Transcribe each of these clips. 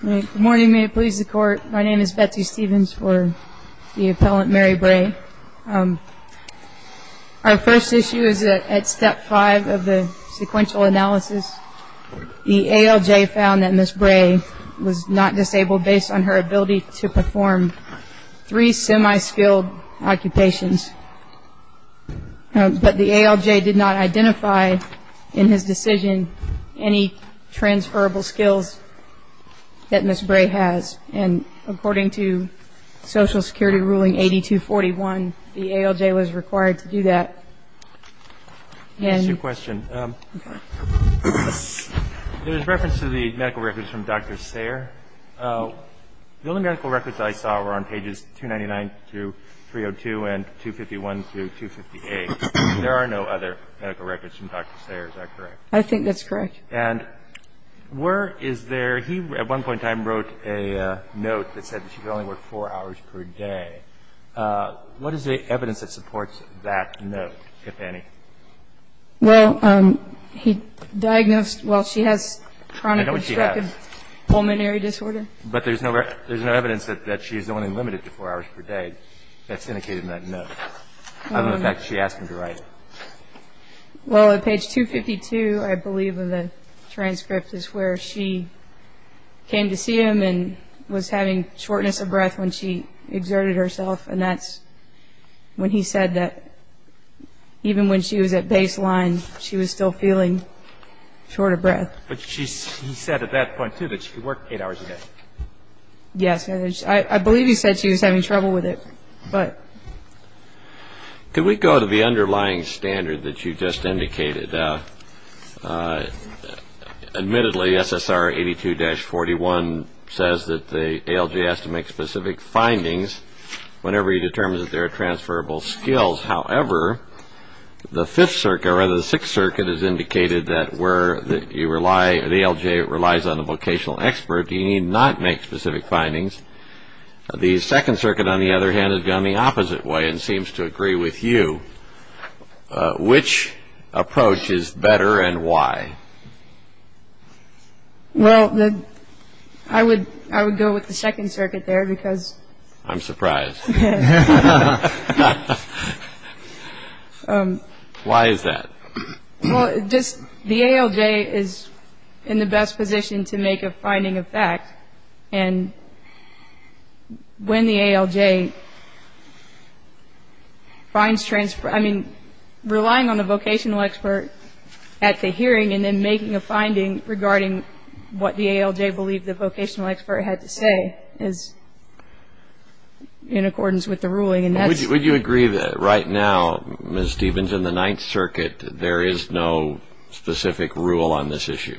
Good morning, may it please the Court. My name is Betsy Stevens for the Appellant Mary Bray. Our first issue is at step five of the sequential analysis. The ALJ found that Ms. Bray was not disabled based on her ability to perform three semi-skilled occupations. But the ALJ did not identify in his decision any transferable skills that Ms. Bray has. And according to Social Security Ruling 8241, the ALJ was required to do that. I have a question. There is reference to the medical records from Dr. Sayre. The only medical records I saw were on pages 299-302 and 251-258. There are no other medical records from Dr. Sayre, is that correct? I think that's correct. And where is there he at one point in time wrote a note that said she could only work four hours per day. What is the evidence that supports that note, if any? Well, he diagnosed, well, she has chronic obstructive pulmonary disorder. But there's no evidence that she's only limited to four hours per day. That's indicated in that note. I don't know the fact that she asked him to write it. Well, at page 252, I believe, of the transcript, is where she came to see him and was having shortness of breath when she exerted herself. And that's when he said that even when she was at baseline, she was still feeling short of breath. But he said at that point, too, that she could work eight hours a day. Yes. I believe he said she was having trouble with it. Could we go to the underlying standard that you just indicated? Admittedly, SSR 82-41 says that the ALJ has to make specific findings whenever he determines that there are transferable skills. However, the Fifth Circuit, or rather the Sixth Circuit, has indicated that where you rely, the ALJ relies on a vocational expert. You need not make specific findings. The Second Circuit, on the other hand, has gone the opposite way and seems to agree with you. Which approach is better and why? Well, I would go with the Second Circuit there because... I'm surprised. Why is that? Well, the ALJ is in the best position to make a finding of fact. And when the ALJ finds transferable... I mean, relying on a vocational expert at the hearing and then making a finding regarding what the ALJ believed the vocational expert had to say is in accordance with the ruling. Would you agree that right now, Ms. Stevens, in the Ninth Circuit, there is no specific rule on this issue?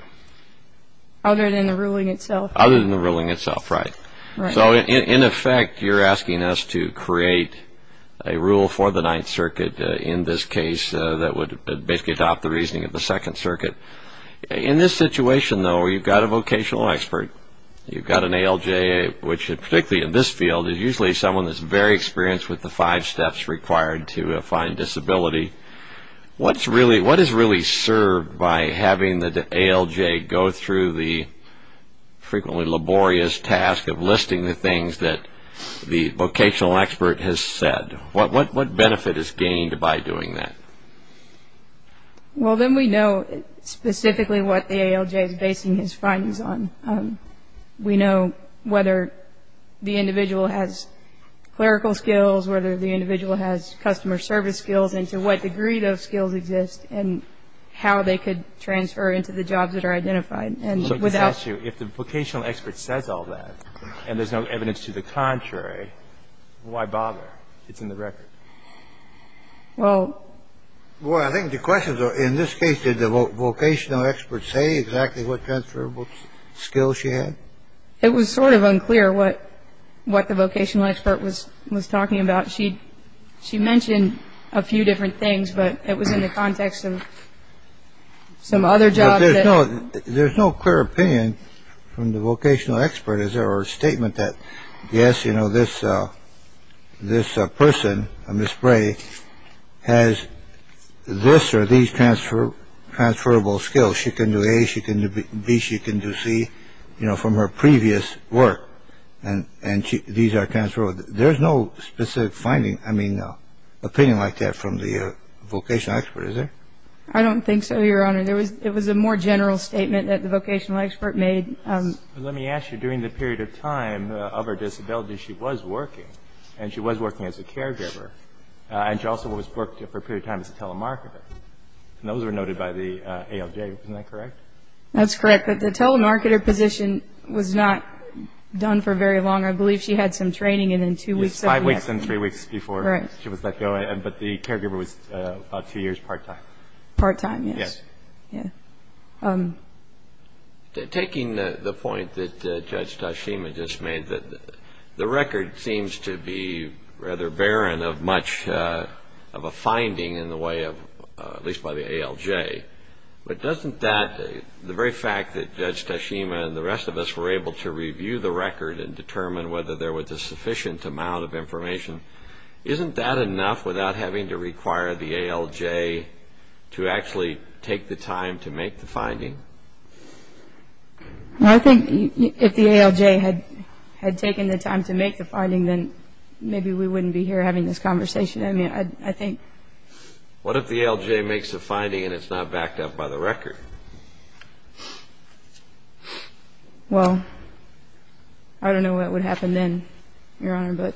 Other than the ruling itself. Other than the ruling itself, right. So, in effect, you're asking us to create a rule for the Ninth Circuit in this case that would basically adopt the reasoning of the Second Circuit. In this situation, though, you've got a vocational expert. You've got an ALJ, which particularly in this field, is usually someone that's very experienced with the five steps required to find disability. What is really served by having the ALJ go through the frequently laborious task of listing the things that the vocational expert has said? What benefit is gained by doing that? Well, then we know specifically what the ALJ is basing his findings on. We know whether the individual has clerical skills, whether the individual has customer service skills, and to what degree those skills exist, and how they could transfer into the jobs that are identified. And without you If the vocational expert says all that, and there's no evidence to the contrary, why bother? It's in the record. Well. Well, I think the question, though, in this case, did the vocational expert say exactly what transferable skills she had? It was sort of unclear what what the vocational expert was was talking about. She she mentioned a few different things, but it was in the context of some other job. No, there's no clear opinion from the vocational expert. Is there a statement that, yes, you know, this this person on the spray has this or these transferable skills. She can do A, she can do B, she can do C, you know, from her previous work. And these are transferable. There's no specific finding, I mean, opinion like that from the vocational expert, is there? I don't think so, Your Honor. It was a more general statement that the vocational expert made. Let me ask you, during the period of time of her disability, she was working. And she was working as a caregiver. And she also worked for a period of time as a telemarketer. And those were noted by the ALJ. Isn't that correct? That's correct. But the telemarketer position was not done for very long. I believe she had some training, and then two weeks. It was five weeks and three weeks before she was let go. But the caregiver was about two years part time. Part time, yes. Taking the point that Judge Tashima just made, that the record seems to be rather barren of much of a finding in the way of, at least by the ALJ. But doesn't that, the very fact that Judge Tashima and the rest of us were able to review the record and determine whether there was a sufficient amount of information, isn't that enough without having to require the ALJ to actually take the time to make the finding? Well, I think if the ALJ had taken the time to make the finding, then maybe we wouldn't be here having this conversation. I mean, I think. What if the ALJ makes a finding and it's not backed up by the record? Well, I don't know what would happen then, Your Honor. But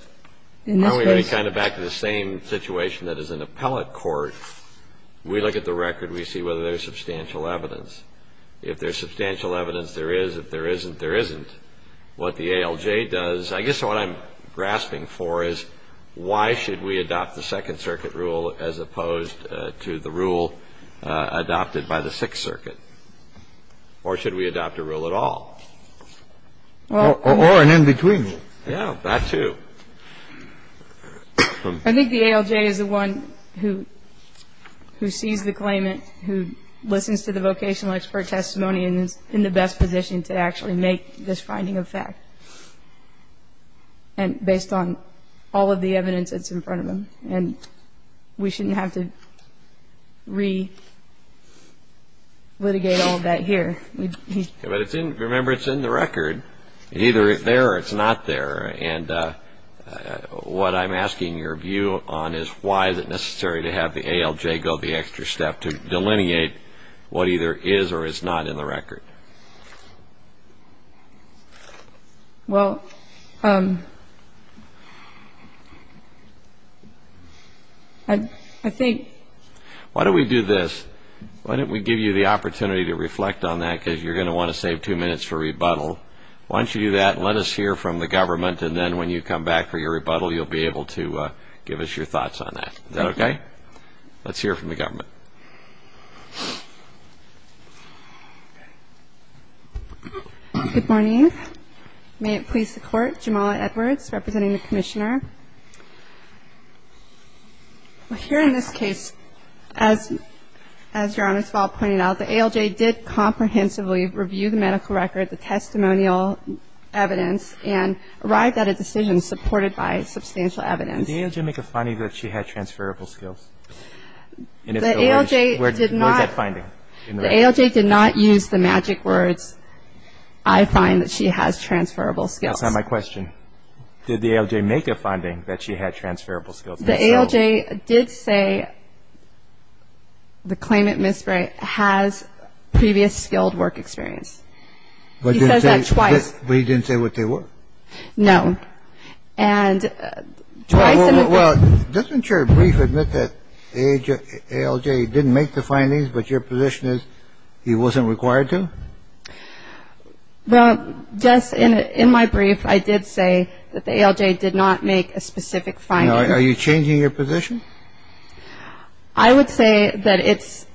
in this case. We're kind of back to the same situation that is in appellate court. We look at the record, we see whether there's substantial evidence. If there's substantial evidence, there is. If there isn't, there isn't. What the ALJ does, I guess what I'm grasping for is, why should we adopt the Second Circuit rule as opposed to the rule adopted by the Sixth Circuit? Or should we adopt a rule at all? Or an in-between rule. Yeah, that too. I think the ALJ is the one who sees the claimant, who listens to the vocational expert testimony and is in the best position to actually make this finding a fact. And based on all of the evidence that's in front of them. And we shouldn't have to re-litigate all of that here. Remember, it's in the record. Either it's there or it's not there. And what I'm asking your view on is, why is it necessary to have the ALJ go the extra step to delineate what either is or is not in the record? Well, I think... Why don't we do this? Why don't we give you the opportunity to reflect on that, because you're going to want to save two minutes for rebuttal. Why don't you do that and let us hear from the government, and then when you come back for your rebuttal, you'll be able to give us your thoughts on that. Is that okay? Let's hear from the government. Good morning. May it please the Court. Jamala Edwards, representing the Commissioner. Here in this case, as Your Honor's fault pointed out, the ALJ did comprehensively review the medical record, the testimonial evidence, and arrived at a decision supported by substantial evidence. Did the ALJ make a finding that she had transferable skills? What was that finding? The ALJ did not use the magic words, I find that she has transferable skills. That's not my question. Did the ALJ make a finding that she had transferable skills? The ALJ did say the claimant, Ms. Bray, has previous skilled work experience. He says that twice. But he didn't say what they were? No. And twice in the brief. Well, doesn't your brief admit that ALJ didn't make the findings, but your position is he wasn't required to? Well, just in my brief, I did say that the ALJ did not make a specific finding. Are you changing your position? I would say that it's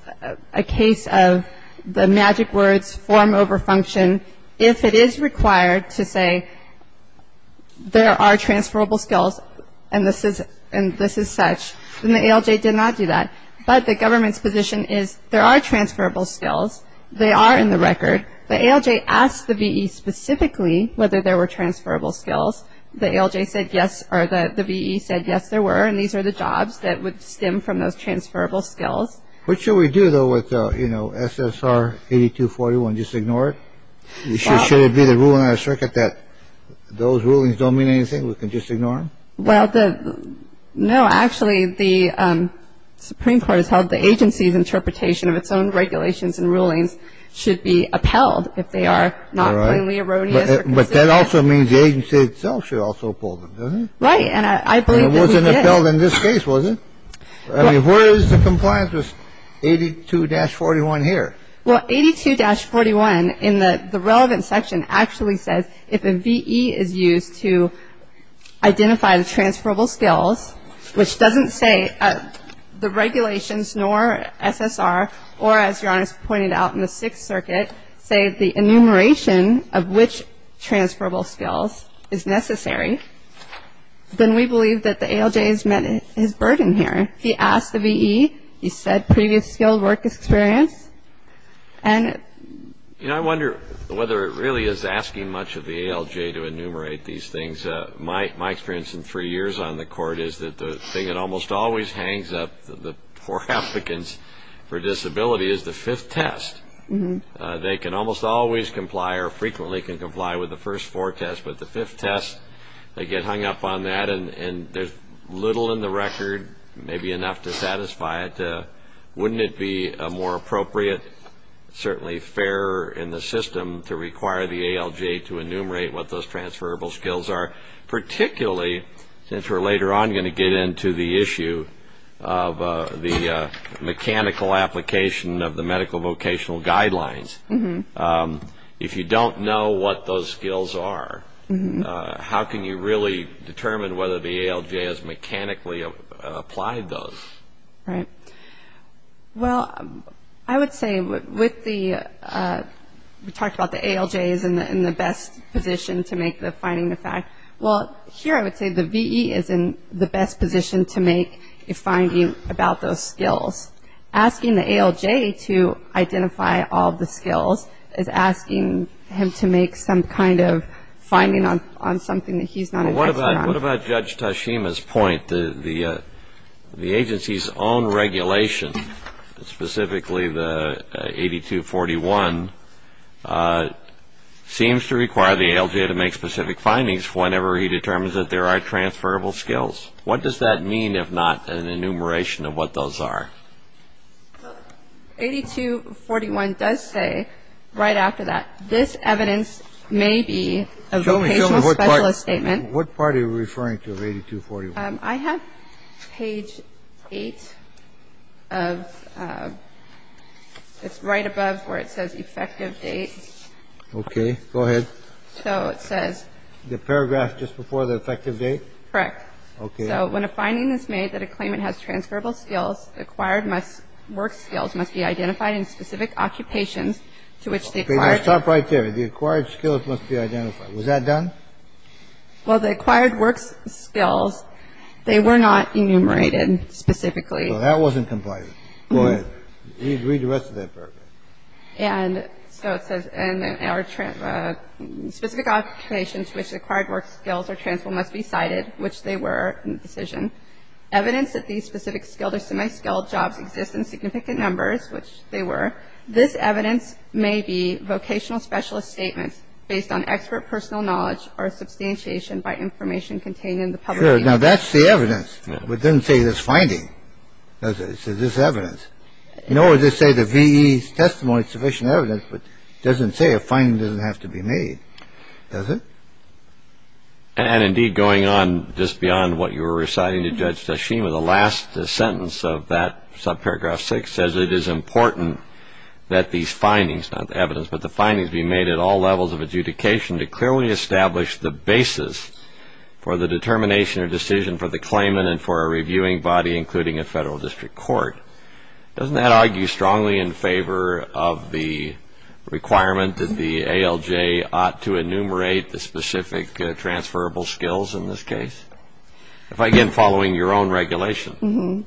a case of the magic words form over function. If it is required to say there are transferable skills and this is such, then the ALJ did not do that. But the government's position is there are transferable skills. They are in the record. The ALJ asked the V.E. specifically whether there were transferable skills. The ALJ said yes, or the V.E. said yes, there were. And these are the jobs that would stem from those transferable skills. What should we do, though, with SSR 8241? Just ignore it? Should it be the rule in our circuit that those rulings don't mean anything? We can just ignore them? Well, no. Actually, the Supreme Court has held the agency's interpretation of its own regulations and rulings should be upheld if they are not plainly erroneous. But that also means the agency itself should also pull them, doesn't it? Right. And I believe that we did. It wasn't upheld in this case, was it? I mean, where is the compliance with 82-41 here? Well, 82-41 in the relevant section actually says if a V.E. is used to identify the transferable skills, which doesn't say the regulations nor SSR, or as your Honor has pointed out in the Sixth Circuit, say the enumeration of which transferable skills is necessary, then we believe that the ALJ has met his burden here. He asked the V.E. He said previous skilled work experience. You know, I wonder whether it really is asking much of the ALJ to enumerate these things. My experience in three years on the Court is that the thing that almost always hangs up for applicants for disability is the fifth test. They can almost always comply or frequently can comply with the first four tests. But the fifth test, they get hung up on that, and there's little in the record, maybe enough to satisfy it. Wouldn't it be more appropriate, certainly fairer in the system, to require the ALJ to enumerate what those transferable skills are, particularly since we're later on going to get into the issue of the mechanical application of the medical vocational guidelines? If you don't know what those skills are, how can you really determine whether the ALJ has mechanically applied those? Right. Well, I would say with the we talked about the ALJ is in the best position to make the finding the fact. Well, here I would say the VE is in the best position to make a finding about those skills. Asking the ALJ to identify all of the skills is asking him to make some kind of finding on something that he's not aware of. What about Judge Tashima's point? The agency's own regulation, specifically the 8241, seems to require the ALJ to make specific findings whenever he determines that there are transferable skills. What does that mean if not an enumeration of what those are? 8241 does say right after that, this evidence may be a vocational specialist statement. What part are you referring to of 8241? I have page 8 of it's right above where it says effective date. OK, go ahead. So it says. The paragraph just before the effective date. Correct. OK. So when a finding is made that a claimant has transferable skills, acquired must work skills must be identified in specific occupations to which they. Stop right there. The acquired skills must be identified. Was that done? Well, the acquired works skills, they were not enumerated specifically. Well, that wasn't compliant. Go ahead. Read the rest of that paragraph. And so it says in our specific occupations which acquired work skills are transferable must be cited, which they were in the decision. Evidence that these specific skilled or semi-skilled jobs exist in significant numbers, which they were. This evidence may be vocational specialist statements based on expert personal knowledge or substantiation by information contained in the public. Now, that's the evidence. It doesn't say this finding. It says this evidence. You know, as they say, the V.E. testimony is sufficient evidence, but it doesn't say a finding doesn't have to be made, does it? And indeed, going on just beyond what you were reciting to Judge Tashima, the last sentence of that subparagraph 6 says it is important that these findings, not evidence, but the findings be made at all levels of adjudication to clearly establish the basis for the determination or decision for the claimant and for a reviewing body, including a federal district court. Doesn't that argue strongly in favor of the requirement that the ALJ ought to enumerate the specific transferable skills in this case? Again, following your own regulation.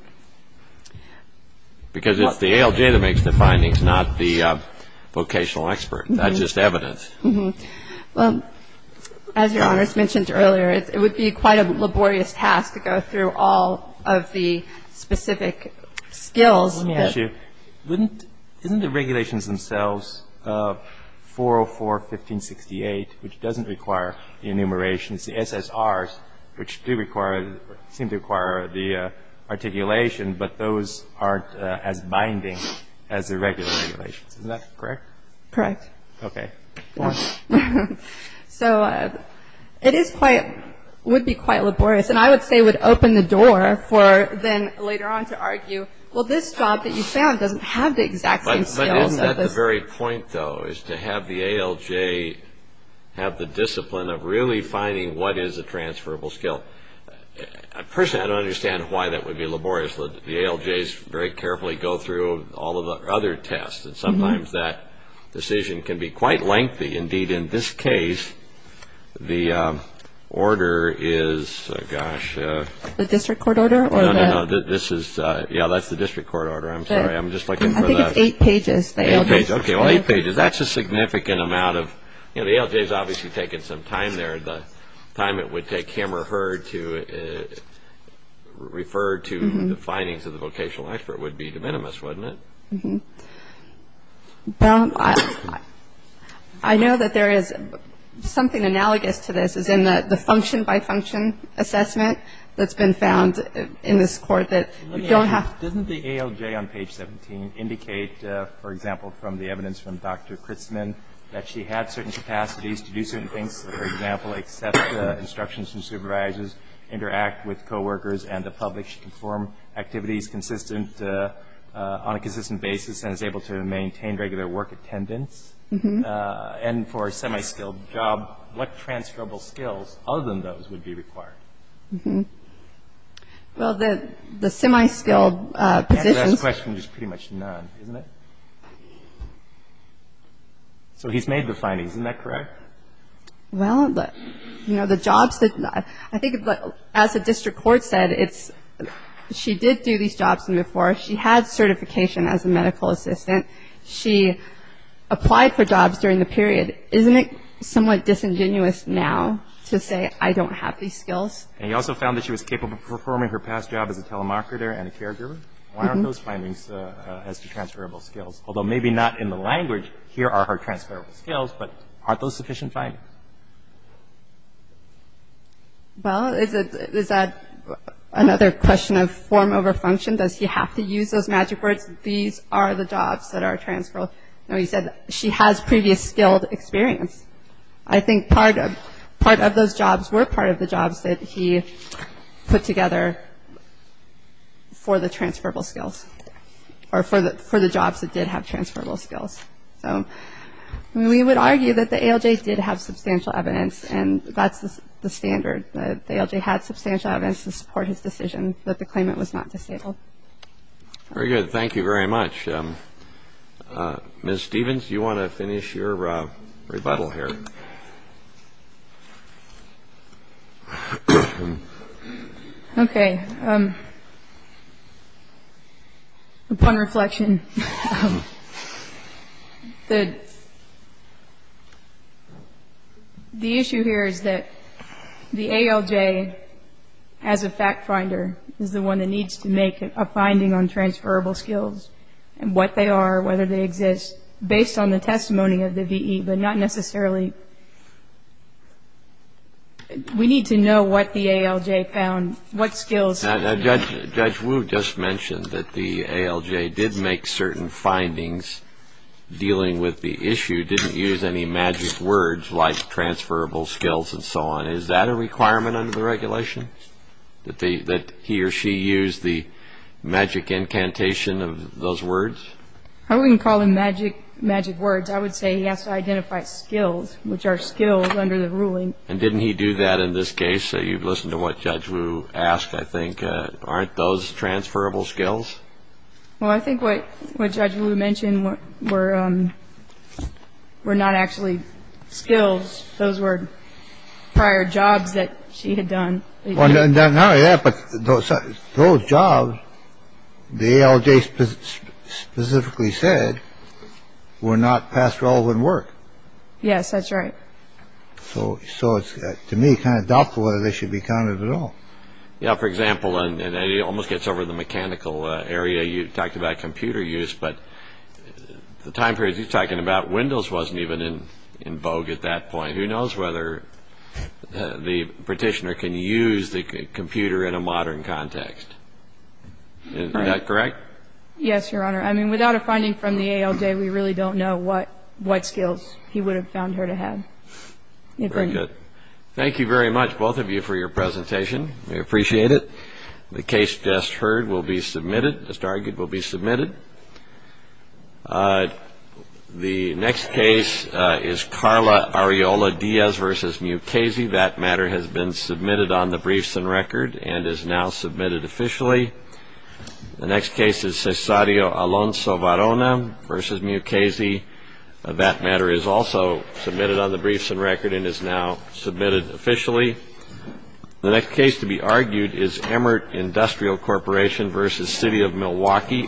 Because it's the ALJ that makes the findings, not the vocational expert. That's just evidence. Well, as Your Honors mentioned earlier, it would be quite a laborious task to go through all of the specific skills. Let me ask you, wouldn't the regulations themselves, 404, 1568, which doesn't require enumeration, the SSRs, which do require, seem to require the articulation, but those aren't as binding as the regular regulations. Isn't that correct? Correct. Okay. Go on. So it is quite, would be quite laborious. And I would say would open the door for then later on to argue, well, this job that you found doesn't have the exact same skills. The very point, though, is to have the ALJ have the discipline of really finding what is a transferable skill. Personally, I don't understand why that would be laborious. The ALJs very carefully go through all of the other tests, and sometimes that decision can be quite lengthy. Indeed, in this case, the order is, gosh. The district court order? No, no, no. This is, yeah, that's the district court order. I'm sorry. I'm just looking for the. I think it's eight pages. Eight pages. Okay, well, eight pages. That's a significant amount of, you know, the ALJ has obviously taken some time there. The time it would take him or her to refer to the findings of the vocational expert would be de minimis, wouldn't it? I know that there is something analogous to this, as in the function by function assessment that's been found in this court that you don't have. Doesn't the ALJ on page 17 indicate, for example, from the evidence from Dr. Crisman, that she had certain capacities to do certain things, for example, accept instructions from supervisors, interact with coworkers and the public, she can perform activities consistent on a consistent basis and is able to maintain regular work attendance? And for a semi-skilled job, what transferable skills other than those would be required? Well, the semi-skilled positions. And the last question is pretty much none, isn't it? So he's made the findings. Isn't that correct? Well, you know, the jobs that... I think as the district court said, she did do these jobs before. She had certification as a medical assistant. She applied for jobs during the period. Isn't it somewhat disingenuous now to say, I don't have these skills? And he also found that she was capable of performing her past job as a telemarketer and a caregiver. Why aren't those findings as to transferable skills? Although maybe not in the language, here are her transferable skills, but aren't those sufficient findings? Well, is that another question of form over function? Does he have to use those magic words? These are the jobs that are transferable. He said she has previous skilled experience. I think part of those jobs were part of the jobs that he put together for the transferable skills, or for the jobs that did have transferable skills. So we would argue that the ALJ did have substantial evidence, and that's the standard. The ALJ had substantial evidence to support his decision that the claimant was not disabled. Very good. Thank you very much. Ms. Stevens, do you want to finish your rebuttal here? Okay. Upon reflection, the issue here is that the ALJ, as a fact finder, is the one that needs to make a finding on transferable skills and what they are, whether they exist, based on the testimony of the VE, but not necessarily. We need to know what the ALJ found, what skills. Judge Wu just mentioned that the ALJ did make certain findings dealing with the issue, didn't use any magic words like transferable skills and so on. Is that a requirement under the regulation, that he or she use the magic incantation of those words? I wouldn't call them magic words. I would say he has to identify skills, which are skills under the ruling. And didn't he do that in this case? You've listened to what Judge Wu asked, I think. Aren't those transferable skills? Well, I think what Judge Wu mentioned were not actually skills. Those were prior jobs that she had done. Not only that, but those jobs, the ALJ specifically said, were not past relevant work. Yes, that's right. So to me, it's kind of doubtful whether they should be counted at all. Yeah, for example, and it almost gets over the mechanical area. You talked about computer use, but the time period he's talking about, Windows wasn't even in vogue at that point. Who knows whether the petitioner can use the computer in a modern context. Is that correct? Yes, Your Honor. I mean, without a finding from the ALJ, we really don't know what skills he would have found her to have. Very good. Thank you very much, both of you, for your presentation. We appreciate it. The case just heard will be submitted, just argued, will be submitted. The next case is Carla Areola Diaz v. Mukasey. That matter has been submitted on the briefs and record and is now submitted officially. The next case is Cesario Alonso Varona v. Mukasey. That matter is also submitted on the briefs and record and is now submitted officially. The next case to be argued is Emert Industrial Corporation v. City of Milwaukee, Oregon.